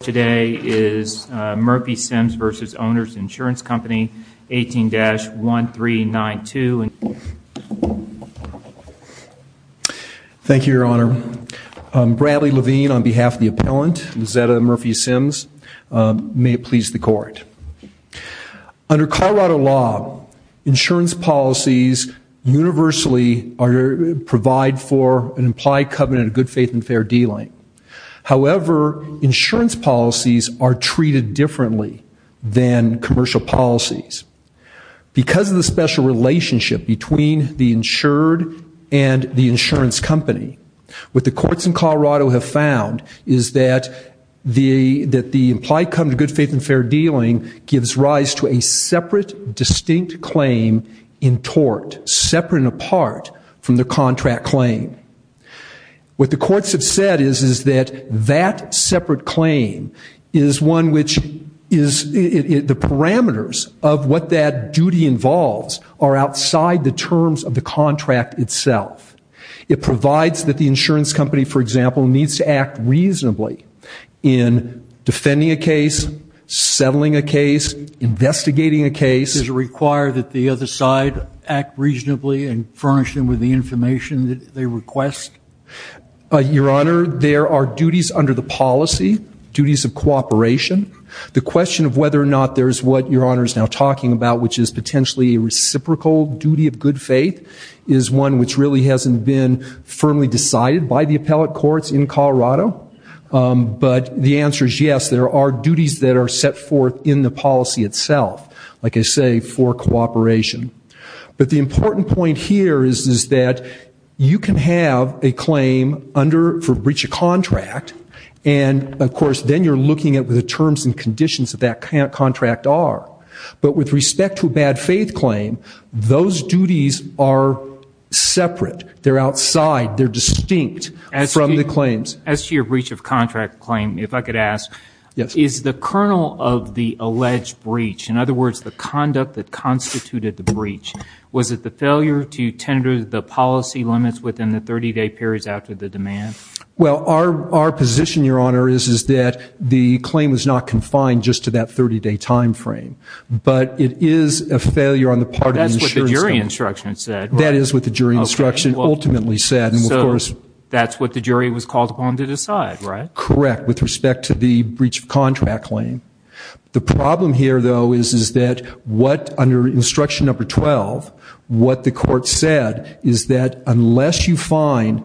Today is Murphy-Sims v. Owners Insurance Company, 18-1392. Thank you, Your Honor. Bradley Levine on behalf of the appellant, Lizetta Murphy-Sims. May it please the Court. Under Colorado law, insurance policies universally provide for an implied covenant of good faith and fair dealing. However, insurance policies are treated differently than commercial policies. Because of the special relationship between the insured and the insurance company, what the courts in Colorado have found is that the implied covenant of good faith and fair dealing gives rise to a separate, distinct claim in tort, separate and apart from the contract claim. What the courts have said is that that separate claim is one which is, the parameters of what that duty involves are outside the terms of the contract itself. It provides that the insurance company, for example, needs to act reasonably in defending a case, settling a case, investigating a case. Does it require that the other side act reasonably and furnish them with the information that they request? Your Honor, there are duties under the policy, duties of cooperation. The question of whether or not there is what Your Honor is now talking about, which is potentially a reciprocal duty of good faith, is one which really hasn't been firmly decided by the appellate courts in Colorado. But the answer is yes, there are duties that are set forth in the policy itself, like I say, for cooperation. But the important point here is that you can have a claim under, for breach of contract, and of course then you're looking at what the terms and conditions of that contract are. But with respect to a bad faith claim, those duties are separate. They're outside, they're distinct from the claims. As to your breach of contract claim, if I could ask, is the kernel of the alleged breach, in other words, the conduct that constituted the breach, was it the failure to tender the policy limits within the 30-day periods after the demand? Well, our position, Your Honor, is that the claim is not confined just to that 30-day time frame. But it is a failure on the part of the insurance company. That's what the jury instruction said, right? That is what the jury instruction ultimately said, and of course... That's what the jury was called upon to decide, right? Correct, with respect to the breach of contract claim. The problem here, though, is that what, under instruction number 12, what the court said is that unless you find,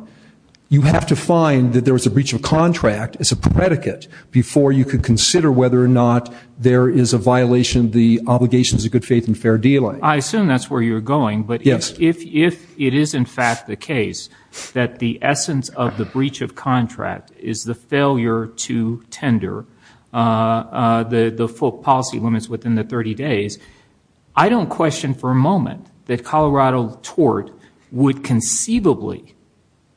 you have to find that there was a breach of contract as a predicate before you could consider whether or not there is a violation of the obligations of good faith and fair deal. I assume that's where you're going, but if it is, in fact, the case that the essence of the breach of contract is the failure to tender the full policy limits within the 30-days, I don't question for a moment that Colorado tort would conceivably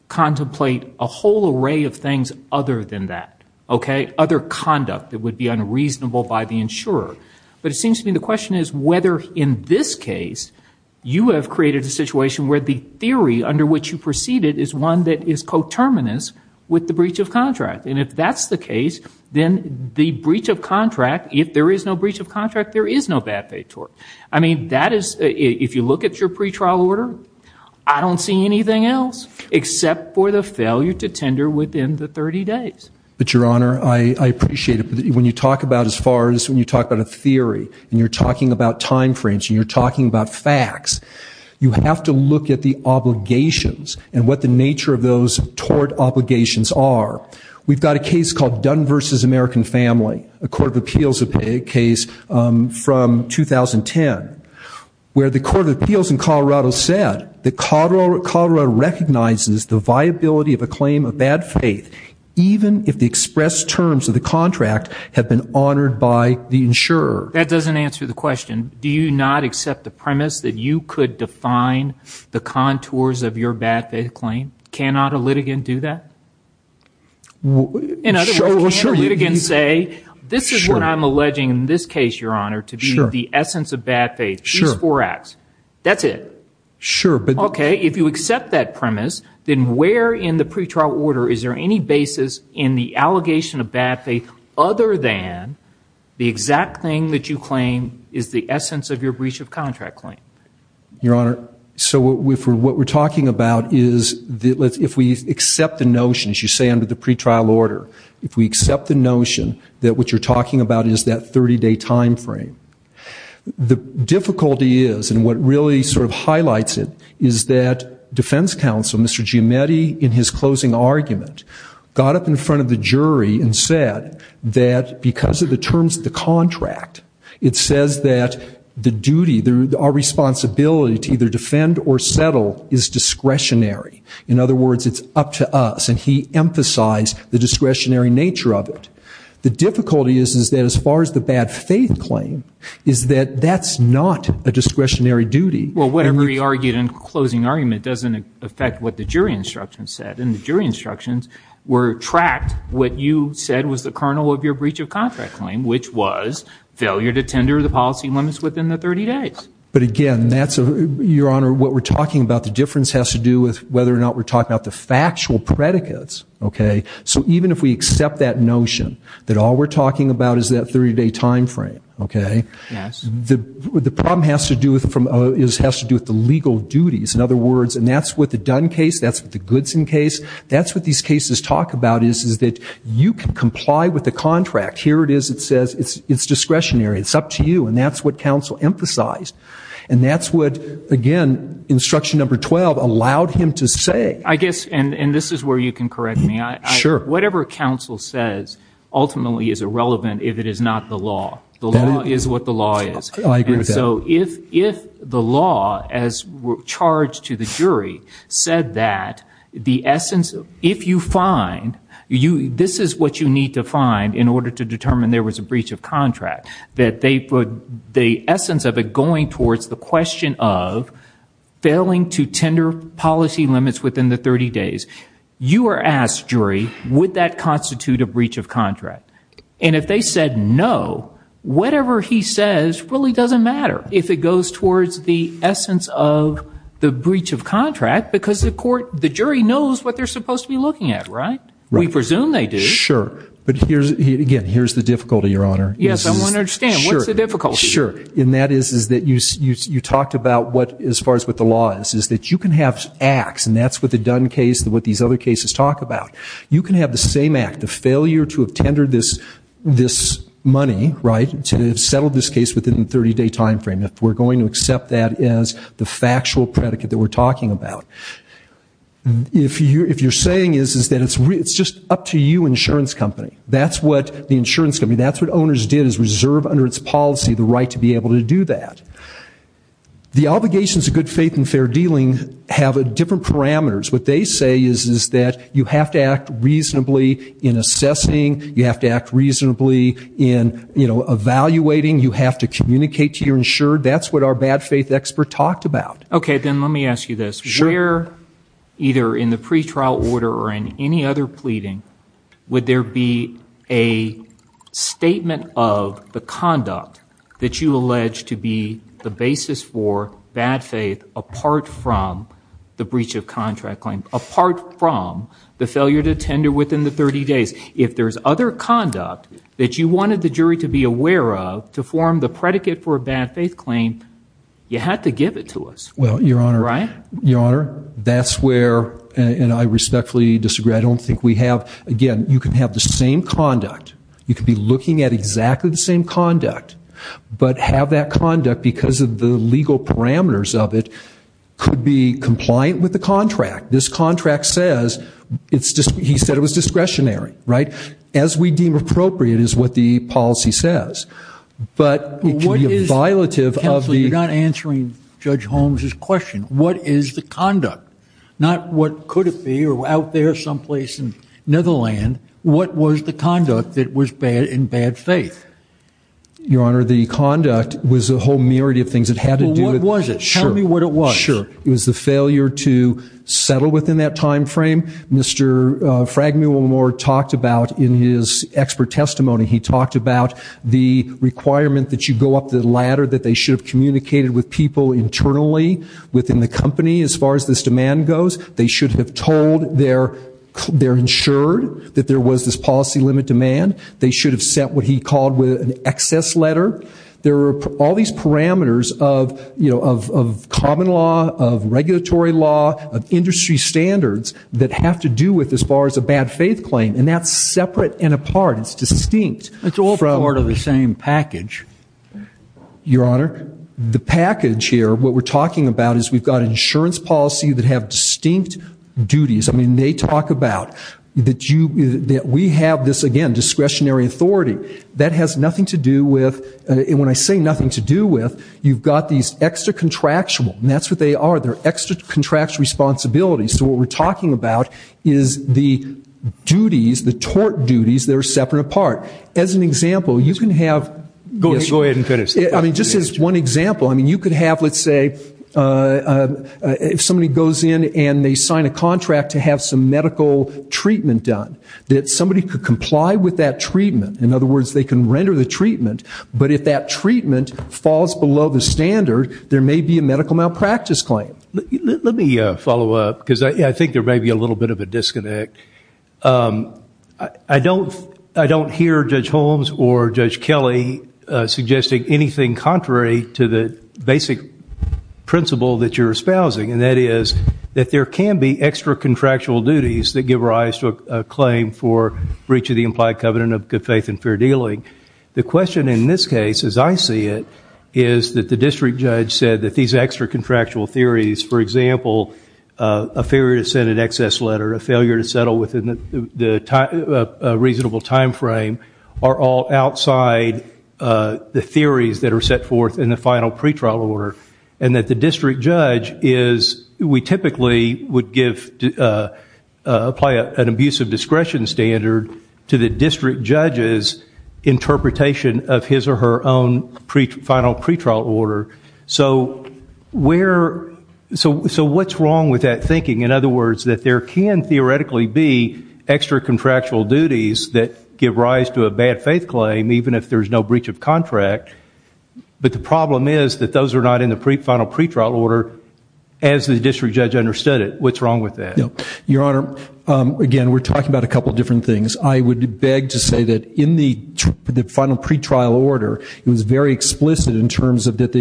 contemplate a whole array of things other than that, okay? Other conduct that would be unreasonable by the insurer. But it seems to me the question is whether, in this case, you have created a terminus with the breach of contract. And if that's the case, then the breach of contract, if there is no breach of contract, there is no bad faith tort. I mean, that is, if you look at your pre-trial order, I don't see anything else except for the failure to tender within the 30-days. But, Your Honor, I appreciate it. When you talk about, as far as when you talk about a theory, and you're talking about time frames, and you're talking about facts, you have to look at the obligations and what the nature of those tort obligations are. We've got a case called Dunn v. American Family, a court of appeals case from 2010, where the court of appeals in Colorado said that Colorado recognizes the viability of a claim of bad faith even if the expressed terms of the contract have been honored by the insurer. That doesn't answer the question. Do you not accept the premise that you could define the contours of your bad faith claim? Cannot a litigant do that? In other words, can a litigant say, this is what I'm alleging in this case, Your Honor, to be the essence of bad faith. These four acts. That's it. Sure. Okay. If you accept that premise, then where in the pre-trial order is there any basis in the allegation of bad faith other than the exact thing that you claim is the essence of your breach of contract claim? Your Honor, so what we're talking about is if we accept the notion, as you say, under the pre-trial order, if we accept the notion that what you're talking about is that 30-day time frame, the difficulty is, and what really sort of highlights it, is that defense counsel, Mr. Giametti, in his closing argument, got up in front of the jury and said that because of the terms of the contract, it says that the duty, our responsibility to either defend or settle is discretionary. In other words, it's up to us. And he emphasized the discretionary nature of it. The difficulty is that as far as the bad faith claim, is that that's not a discretionary duty. Well, whatever he argued in closing argument doesn't affect what the jury instructions said. And the jury instructions were tracked. What you said was the kernel of your breach of contract claim, which was failure to tender the policy limits within the 30 days. But again, that's, Your Honor, what we're talking about, the difference has to do with whether or not we're talking about the factual predicates. Okay. So even if we accept that notion that all we're talking about is that 30-day time frame, okay, the problem has to do with the legal duties. In other words, and that's what the Dunn case, that's what the Goodson case, that's what these cases talk about is, is that you can comply with the contract. Here it is. It says it's discretionary. It's up to you. And that's what counsel emphasized. And that's what, again, instruction number 12 allowed him to say. I guess, and this is where you can correct me. Sure. Whatever counsel says ultimately is irrelevant if it is not the law. The law is what the law is. I agree with that. And so if the law, as charged to the jury, said that the essence, if you find, this is what you need to find in order to determine there was a breach of contract, that they put the essence of it going towards the question of failing to tender policy limits within the 30 days. You are asked, jury, would that have happened? And if they said no, whatever he says really doesn't matter if it goes towards the essence of the breach of contract because the court, the jury knows what they're supposed to be looking at, right? We presume they do. Sure. But here's, again, here's the difficulty, Your Honor. Yes, I want to understand. What's the difficulty? Sure. And that is that you talked about what, as far as what the law is, is that you can have acts, and that's what the Dunn case, what these other cases talk about. You can have the same act, the failure to have tendered this money, right, to have settled this case within the 30-day time frame if we're going to accept that as the factual predicate that we're talking about. If you're saying is that it's just up to you, insurance company. That's what the insurance company, that's what owners did, is reserve under its policy the right to be able to do that. The obligations of good faith and fair dealing have different parameters. What they say is that you have to act reasonably in assessing, you have to act reasonably in evaluating, you have to communicate to your insured. That's what our bad faith expert talked about. Okay, then let me ask you this. Sure. Where, either in the pretrial order or in any other pleading, would there be a statement of the conduct that you allege to be the basis for bad faith apart from the breach of contract claim, apart from the failure to tender within the 30 days? If there's other conduct that you wanted the jury to be aware of to form the predicate for a bad faith claim, you had to give it to us, right? Well, Your Honor, that's where, and I respectfully disagree, I don't think we have, again, you can have the same conduct, you could be looking at exactly the same conduct, but have that legal parameters of it could be compliant with the contract. This contract says, it's just, he said it was discretionary, right? As we deem appropriate is what the policy says, but it could be a violative of the... Counsel, you're not answering Judge Holmes' question. What is the conduct? Not what could it be, or out there someplace in Netherlands, what was the conduct that was bad in bad faith? Your Honor, the conduct was a whole myriad of things, it had to do with... Well, what was it? Tell me what it was. Sure, it was the failure to settle within that time frame. Mr. Fragmulemore talked about in his expert testimony, he talked about the requirement that you go up the ladder, that they should have communicated with people internally within the company as far as this demand goes. They should have told their, they're insured that there was this policy limit demand. They should have sent what he called an excess letter. There were all these parameters of common law, of regulatory law, of industry standards that have to do with as far as a bad faith claim, and that's separate and apart, it's distinct. It's all part of the same package. Your Honor, the package here, what we're talking about is we've got insurance policy that have distinct duties. I mean, they talk about that we have this, again, discretionary authority. That has nothing to do with, and when I say nothing to do with, you've got these extra contractual, and that's what they are. They're extra contractual responsibilities. So what we're talking about is the duties, the tort duties that are separate and apart. As an example, you can have... Go ahead and finish. I mean, just as one example, I mean, you could have, let's say, if somebody goes in and they sign a contract to have some medical treatment done, that somebody could comply with that treatment. In other words, they can render the treatment, but if that treatment falls below the standard, there may be a medical malpractice claim. Let me follow up, because I think there may be a little bit of a disconnect. I don't hear Judge Holmes or Judge Kelly suggesting anything contrary to the basic principle that you're espousing, and that is that there can be extra contractual duties that give rise to a claim for breach of the implied covenant of good The question in this case, as I see it, is that the district judge said that these extra contractual theories, for example, a failure to send an excess letter, a failure to settle within a reasonable time frame, are all outside the theories that are set forth in the final pretrial order, and that the district judge is, we typically would apply an abusive discretion standard to the district judge's interpretation of his or her own final pretrial order. So what's wrong with that thinking? In other words, that there can theoretically be extra contractual duties that give rise to a bad faith claim, even if there's no breach of contract, but the problem is that those are not in the final pretrial order as the district judge understood it. What's wrong with that? Your Honor, again, we're talking about a couple different things. I would beg to say that in the final pretrial order, it was very explicit in terms of that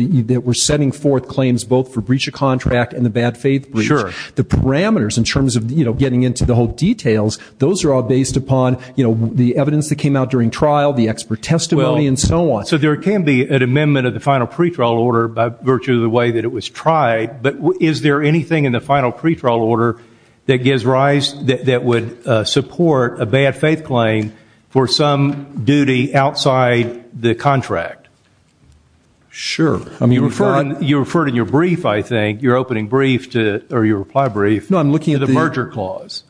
we're setting forth claims both for breach of contract and the bad faith breach. The parameters in terms of getting into the whole details, those are all based upon the evidence that came out during trial, the expert testimony, and so on. So there can be an amendment of the final pretrial order by virtue of the way that it was tried, but is there anything in the final pretrial order that would support a bad faith claim for some duty outside the contract? Sure. You referred in your brief, I think, your opening reply brief to the merger clause.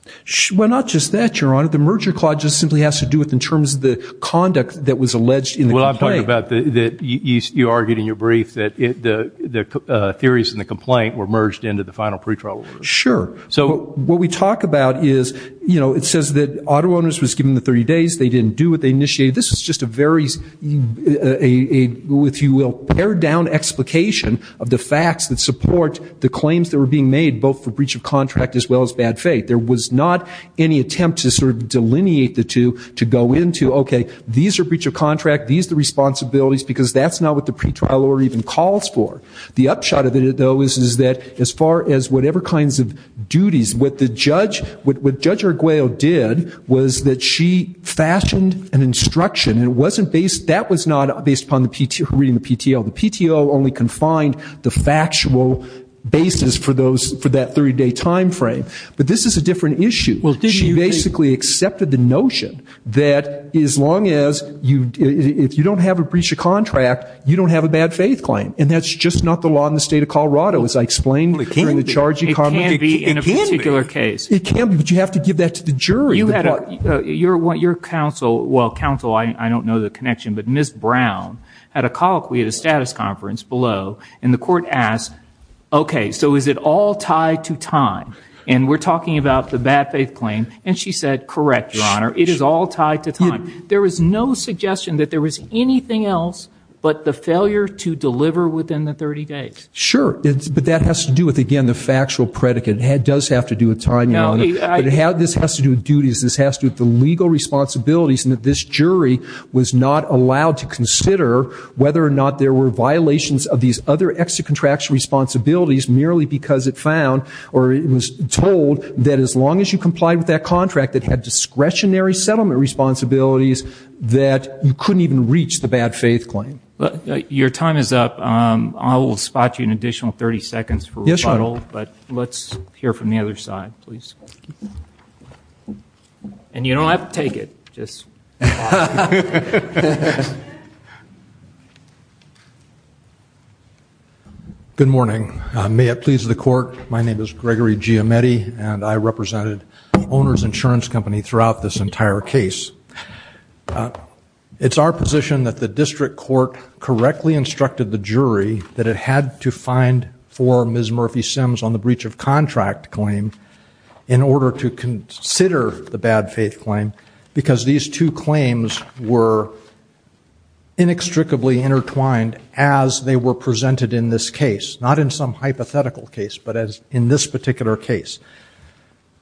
Well, not just that, Your Honor. The merger clause just simply has to do with in terms of the conduct that was alleged in the complaint. Well, I'm talking about that you argued in your brief that the theories in the complaint were merged into the final pretrial order. Sure. What we talk about is, you know, it says that auto owners was given the 30 days. They didn't do what they initiated. This is just a very, if you will, pared down explication of the facts that support the claims that were being made both for breach of contract as well as bad faith. There was not any attempt to sort of delineate the two to go into, okay, these are breach of contract, these are the responsibilities, because that's not what the pretrial order even calls for. The upshot of it, though, is that as far as whatever kinds of duties, what Judge Arguello did was that she fashioned an instruction, and it wasn't based, that was not based upon the PTO reading the PTO. The PTO only confined the factual basis for those, for that 30 day time frame. But this is a different issue. She basically accepted the notion that as long as you, if you don't have a breach of contract, you don't have a bad faith claim. And that's just not the law in the state of Colorado, as I explained during the charge economy. It can be. It can be. In a particular case. It can be, but you have to give that to the jury. You had a, your counsel, well, counsel, I don't know the connection, but Ms. Brown had a colloquy at a status conference below, and the court asked, okay, so is it all tied to time? And we're talking about the bad faith claim. And she said, correct, Your Honor, it is all tied to time. There was no suggestion that there was anything else but the failure to deliver within the 30 days. Sure. But that has to do with, again, the factual predicate. It does have to do with time, Your Honor. But how this has to do with duties, this has to do with the legal responsibilities and that this jury was not allowed to consider whether or not there were violations of these other extracontractual responsibilities merely because it found or it was told that as long as you complied with that contract, it had discretionary settlement responsibilities, that you couldn't even reach the bad faith claim. Your time is up. I will spot you an additional 30 seconds for rebuttal, but let's hear from the other side, please. And you don't have to take it, just. Good morning. May it please the court, my name is Gregory Giametti, and I represented the owner's insurance company throughout this entire case. It's our position that the district court correctly instructed the jury that it had to find four Ms. Murphy Sims on the breach of contract claim in order to consider the bad faith claim, because these two claims were inextricably intertwined as they were presented in this case, not in some hypothetical case, but in this particular case.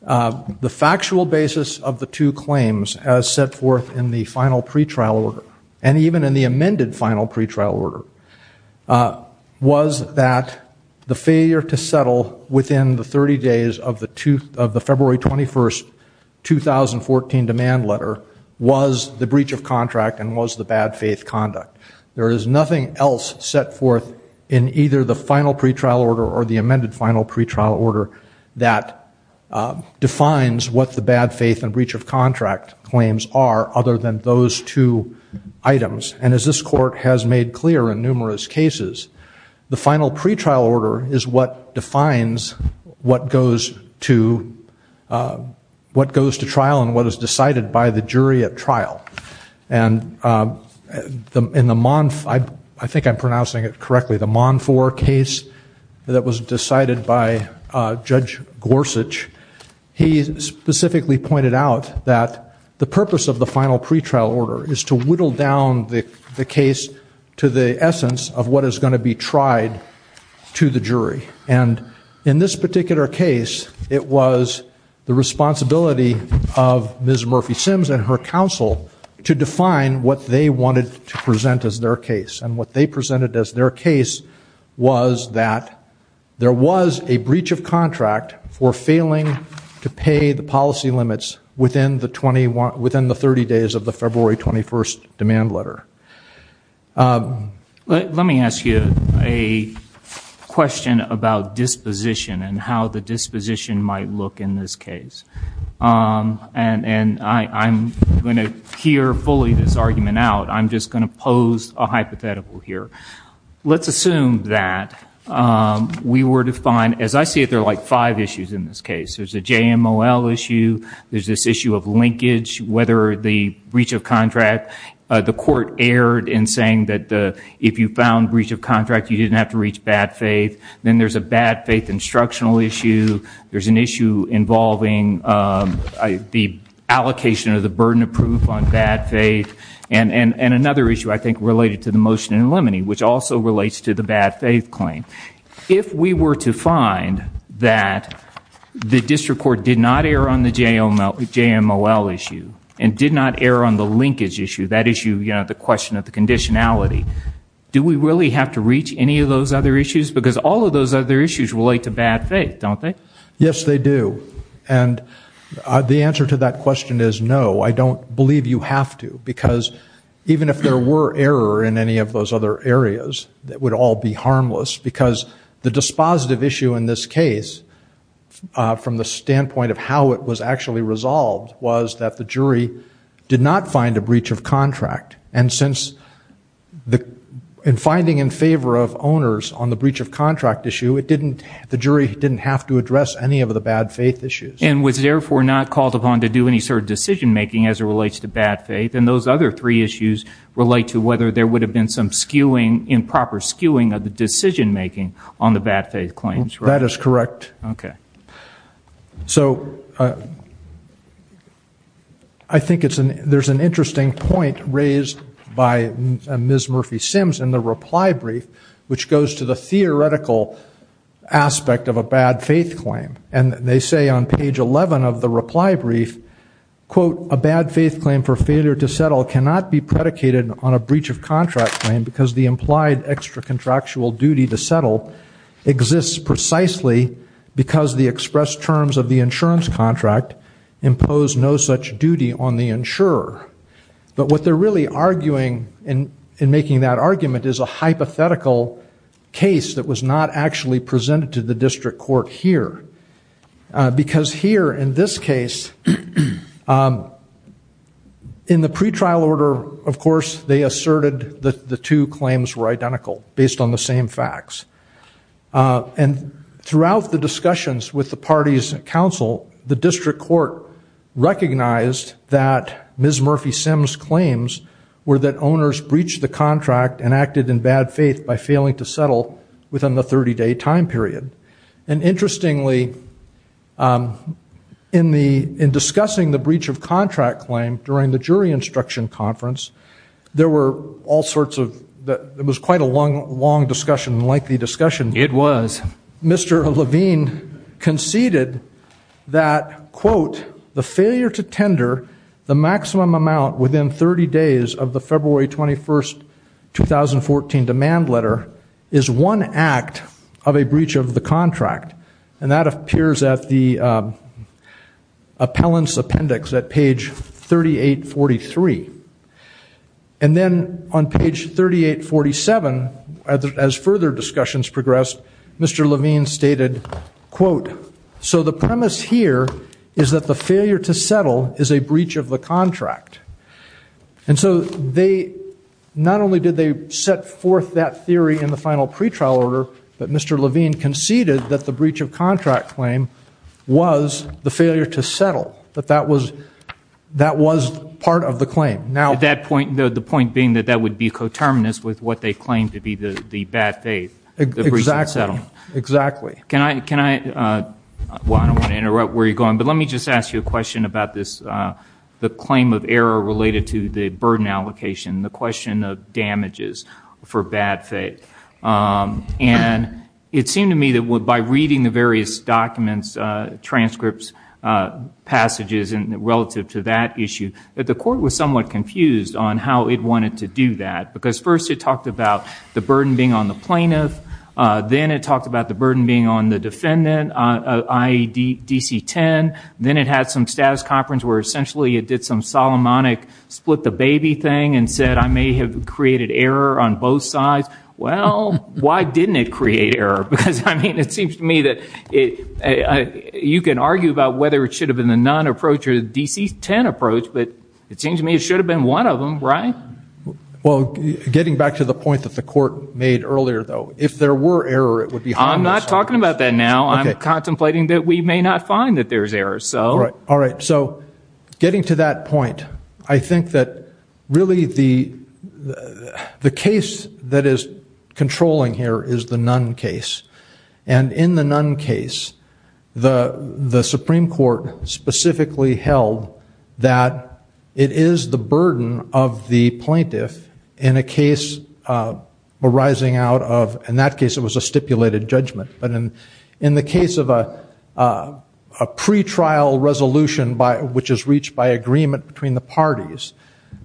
The factual basis of the two claims as set forth in the final pretrial order, and even in the amended final pretrial order, was that the failure to settle within the 30 days of the February 21st, 2014 demand letter was the breach of contract and was the bad faith conduct. There is nothing else set forth in either the final pretrial order or the amended final pretrial order that defines what the bad faith and breach of contract claims are other than those two items. And as this court has made clear in numerous cases, the final pretrial order is what defines what goes to trial and what is decided by the jury at trial. And I think I'm pronouncing it correctly, the Monfor case that was decided by Judge Gorsuch, he specifically pointed out that the purpose of the final pretrial order is to whittle down the case to the essence of what is going to be tried to the jury. And in this particular case, it was the responsibility of Ms. Murphy Sims and her counsel to define what they wanted to present as their case. And what they presented as their case was that there was a breach of contract for failing to pay the policy limits within the 30 days of the February 21st demand letter. Let me ask you a question about disposition and how the disposition might look in this case. And I'm going to hear fully this argument out. I'm just going to pose a hypothetical here. Let's assume that we were to find, as I see it, there are like five issues in this case. There's a JMOL issue, there's this issue of linkage, whether the breach of contract, the court erred in saying that if you found breach of contract, you didn't have to reach bad faith. Then there's a bad faith instructional issue. There's an issue involving the allocation of the burden of proof on bad faith. And another issue, I think, related to the motion in limine, which also relates to the bad faith claim. If we were to find that the district court did not err on the JMOL issue and did not err on the linkage issue, that issue, the question of the conditionality, do we really have to reach any of those other issues? Because all of those other issues relate to bad faith, don't they? Yes, they do. And the answer to that question is no, I don't believe you have to. Because even if there were error in any of those other areas, it would all be harmless. Because the dispositive issue in this case, from the standpoint of how it was actually resolved, was that the jury did not find a breach of contract. And finding in favor of owners on the breach of contract issue, the jury didn't have to address any of the bad faith issues. And was therefore not called upon to do any sort of decision making as it relates to bad faith. And those other three issues relate to whether there would have been some skewing, improper skewing of the decision making on the bad faith claims. That is correct. So I think there's an interesting point raised by Ms. Murphy-Sims in the reply brief, which goes to the theoretical aspect of a bad faith claim. And they say on page 11 of the reply brief, quote, a bad faith claim for failure to settle cannot be predicated on a breach of contract claim because the implied extra contractual duty to settle exists precisely because the expressed terms of the insurance contract impose no such duty on the insurer. But what they're really arguing in making that argument is a hypothetical case that was not actually presented to the district court here. Because here in this case, in the pretrial order, of course, they asserted that the two claims were identical based on the same facts. And throughout the discussions with the parties and counsel, the district court recognized that Ms. Murphy-Sims' claims were that owners breached the contract and acted in bad faith by failing to settle within the 30-day time period. And interestingly, in discussing the breach of contract claim during the jury instruction conference, there were all sorts of, it was quite a long discussion, a lengthy discussion. It was. Mr. Levine conceded that, quote, the failure to tender the maximum amount within 30 days of the February 21, 2014 demand letter is one act of a breach of the contract. And that appears at the appellant's page 3843. And then on page 3847, as further discussions progressed, Mr. Levine stated, quote, so the premise here is that the failure to settle is a breach of the contract. And so they, not only did they set forth that theory in the final pretrial order, but Mr. Levine conceded that the breach of contract claim was the failure to settle, that that was part of the claim. Now, at that point, the point being that that would be coterminous with what they claimed to be the bad faith. Exactly. Can I, well, I don't want to interrupt where you're going, but let me just ask you a question about this, the claim of error related to the burden allocation, the question of damages for bad faith. And is there any it seemed to me that by reading the various documents, transcripts, passages, and relative to that issue, that the court was somewhat confused on how it wanted to do that. Because first it talked about the burden being on the plaintiff. Then it talked about the burden being on the defendant, IED DC 10. Then it had some status conference where essentially it did some Solomonic split the baby thing and said, I may have created error on both sides. Well, why didn't it create error? Because I mean, it seems to me that you can argue about whether it should have been the non-approach or the DC 10 approach, but it seems to me it should have been one of them, right? Well, getting back to the point that the court made earlier, though, if there were error, it would be harmless. I'm not talking about that now. I'm contemplating that we may not find that there's error, so. All right. So getting to that point, I think that really the case that is controlling here is the Nunn case. And in the Nunn case, the Supreme Court specifically held that it is the burden of the plaintiff in a case arising out of, in that case it was a stipulated judgment. But in the case of a pretrial resolution which is reached by agreement between the parties,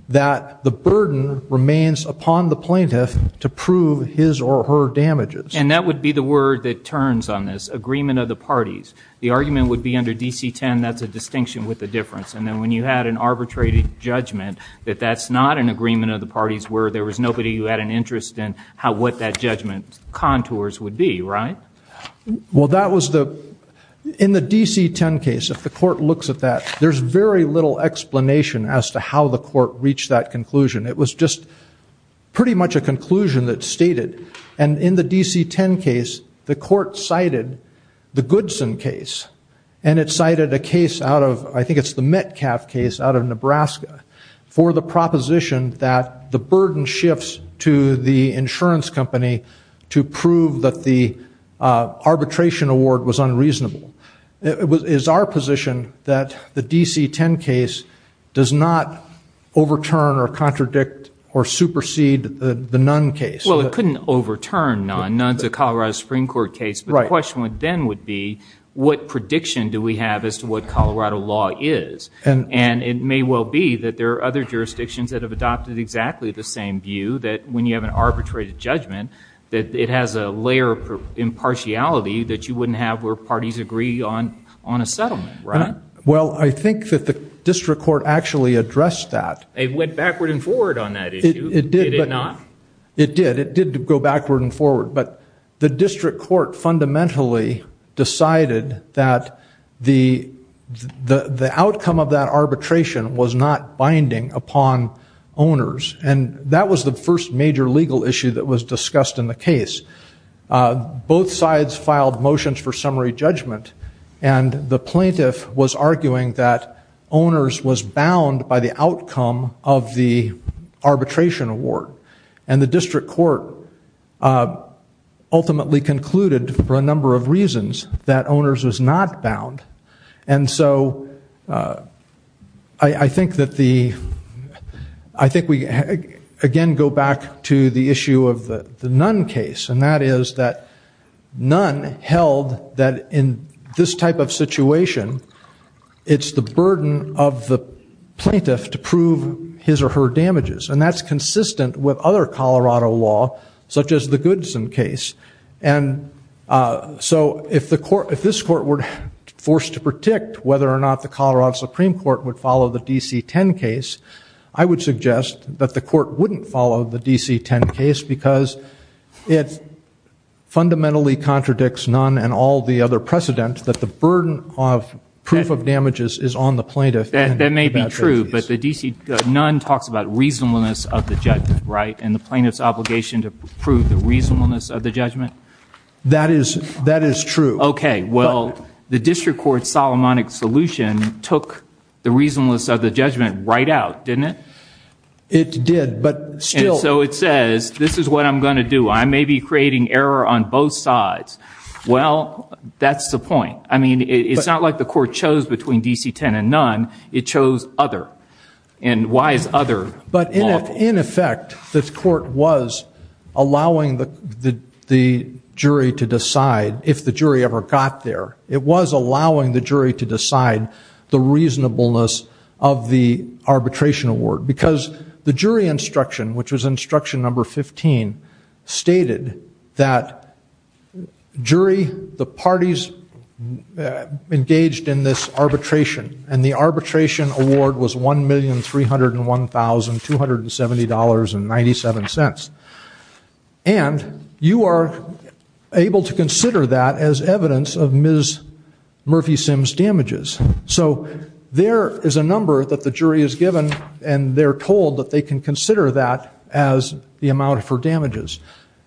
that the burden remains upon the plaintiff to prove his or her damages. And that would be the word that turns on this, agreement of the parties. The argument would be under DC 10, that's a distinction with a difference. And then when you had an arbitrated judgment that that's not an agreement of the parties where there was nobody who had an agreement of the parties, that's where the judgment contours would be, right? Well, that was the, in the DC 10 case, if the court looks at that, there's very little explanation as to how the court reached that conclusion. It was just pretty much a conclusion that's stated. And in the DC 10 case, the court cited the Goodson case. And it cited a case out of, I think it's the Metcalf case out of Nebraska, for the proposition that the burden shifts to the insurance company to prove that the arbitration award was unreasonable. It's our position that the DC 10 case does not overturn or contradict or supersede the Nunn case. Well, it couldn't overturn Nunn. Nunn's a Colorado Supreme Court case. But the question then would be, what prediction do we have as to what Colorado law is? And it may well be that there are other jurisdictions that have adopted exactly the same view, that when you have an arbitrated judgment, that it has a layer of impartiality that you wouldn't have where parties agree on a settlement, right? Well, I think that the district court actually addressed that. It went backward and forward on that issue, did it not? It did. It did go backward and forward. But the district court fundamentally decided that the outcome of that arbitration was not binding upon owners. And that was the first major legal issue that was discussed in the case. Both sides filed motions for summary judgment, and the plaintiff was arguing that owners was bound by the outcome of the arbitration award. And the district court ultimately concluded, for a number of reasons, that owners was not bound. And so I think that the, I think we again go back to the issue of the Nunn case. And that is that Nunn held that in this type of situation, it's the burden of the plaintiff to prove his or her damages. And that's consistent with other Colorado law, such as the Goodson case. And so if this court were forced to predict whether or not the Colorado Supreme Court would follow the DC-10 case, I would suggest that the court wouldn't follow the DC-10 case, because it fundamentally contradicts Nunn and all the other precedent that the burden of proof of damages is on the plaintiff. That may be true, but the DC, Nunn talks about reasonableness of the judgment, right? And the plaintiff's obligation to prove the reasonableness of the judgment? That is true. Okay, well, the district court's Solomonic solution took the reasonableness of the judgment right out, didn't it? It did, but still... So it says, this is what I'm going to do. I may be creating error on both sides. Well, that's the point. I mean, it's not like the court chose between DC-10 and Nunn, it chose other. And why is other lawful? But in effect, the court was allowing the jury to decide if the jury ever got there. It was allowing the jury to decide the reasonableness of the arbitration award. Because the jury instruction, which was instruction number 15, stated that jury, the parties engaged in this arbitration, and the arbitration award was $1,301,270.97. And you are able to consider that as evidence of Ms. Murphy-Simms' damages. So there is a number that the jury is given, and they're told that they can consider that as the amount for damages.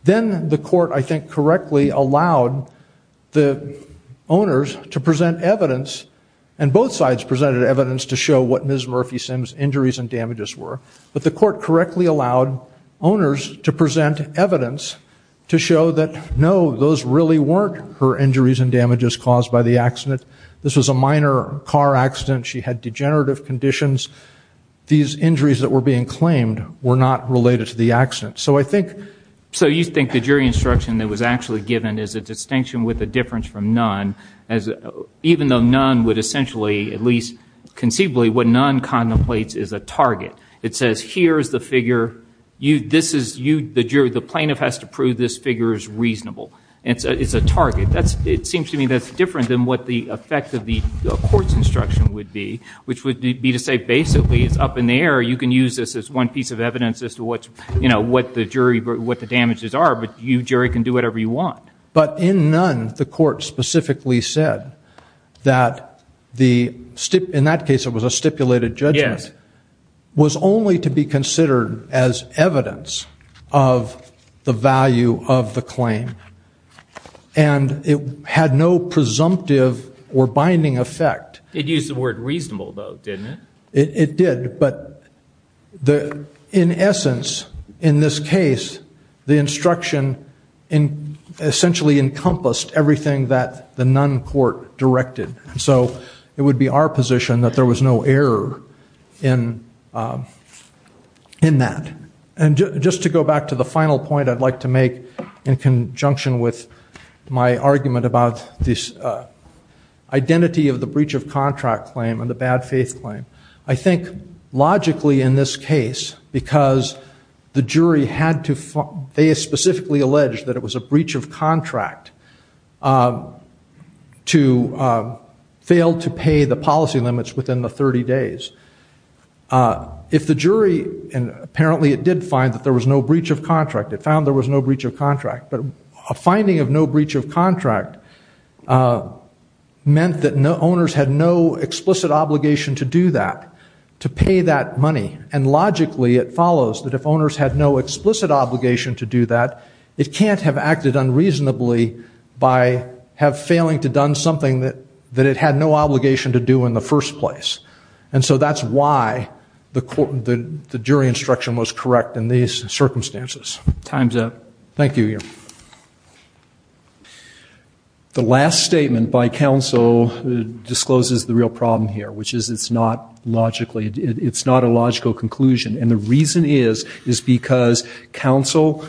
Then the court, I think, correctly allowed the owners to present evidence, and both sides presented evidence to show what Ms. Murphy-Simms' injuries and damages were. But the court correctly allowed owners to present evidence to show that, no, those really weren't her injuries and damages caused by the accident. This was a minor car accident. She had degenerative conditions. These injuries that were being claimed were not related to the accident. So you think the jury instruction that was actually given is a distinction with a difference from none, even though none would essentially, at least conceivably, what none contemplates is a target. It says here is the figure. The plaintiff has to prove this figure is reasonable. It's a target. It seems to me that's different than what the effect of the court's instruction would be, which would be to say, basically, it's up in the air. You can use this as one piece of evidence as to what the jury, what the damages are, but you, jury, can do whatever you want. But in none, the court specifically said that the, in that case it was a stipulated judgment, was only to be considered as evidence of the value of the claim. And it had no presumptive or binding effect. It used the word reasonable, though, didn't it? It did, but the, in essence, in this case, the instruction essentially encompassed everything that the none court directed. So it would be our position that there was no error in that. And just to go back to the final point I'd like to make in conjunction with my argument about this identity of the breach of contract claim and the bad faith claim, I think logically in this case, because the jury had to, they specifically alleged that it was a breach of contract to fail to pay the policy limits within the 30 days. If the jury, and apparently it did find that there was no breach of contract, it found there was no breach of contract, but a finding of no breach of contract meant that owners had no explicit obligation to do that, to pay that money. And logically it follows that if owners had no explicit obligation to do that, it can't have acted unreasonably by have failing to done something that it had no obligation to do in the first place. And so that's why the jury instruction was correct in these circumstances. Time's up. Thank you, Your Honor. The last statement by counsel discloses the real problem here, which is it's not logically, it's not a logical conclusion. And the reason is, is because counsel,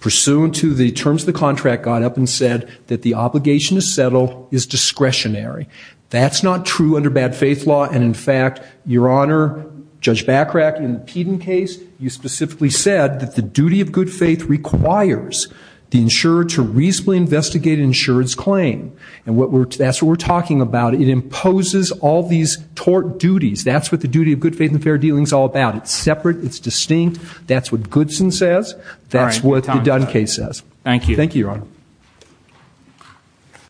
pursuant to the terms of the contract, got up and said that the obligation to settle is discretionary. That's not true under bad faith law. And in fact, Your Honor, Judge Bachrach, in the Peden case, you specifically said that the duty of good faith requires the insurer to reasonably investigate an insurer's claim. And that's what we're talking about. It imposes all these tort duties. That's what the duty of good faith and fair dealing's all about. It's separate, it's distinct, that's what Goodson says, that's what the Dunn case says. Thank you. Thank you, Your Honor.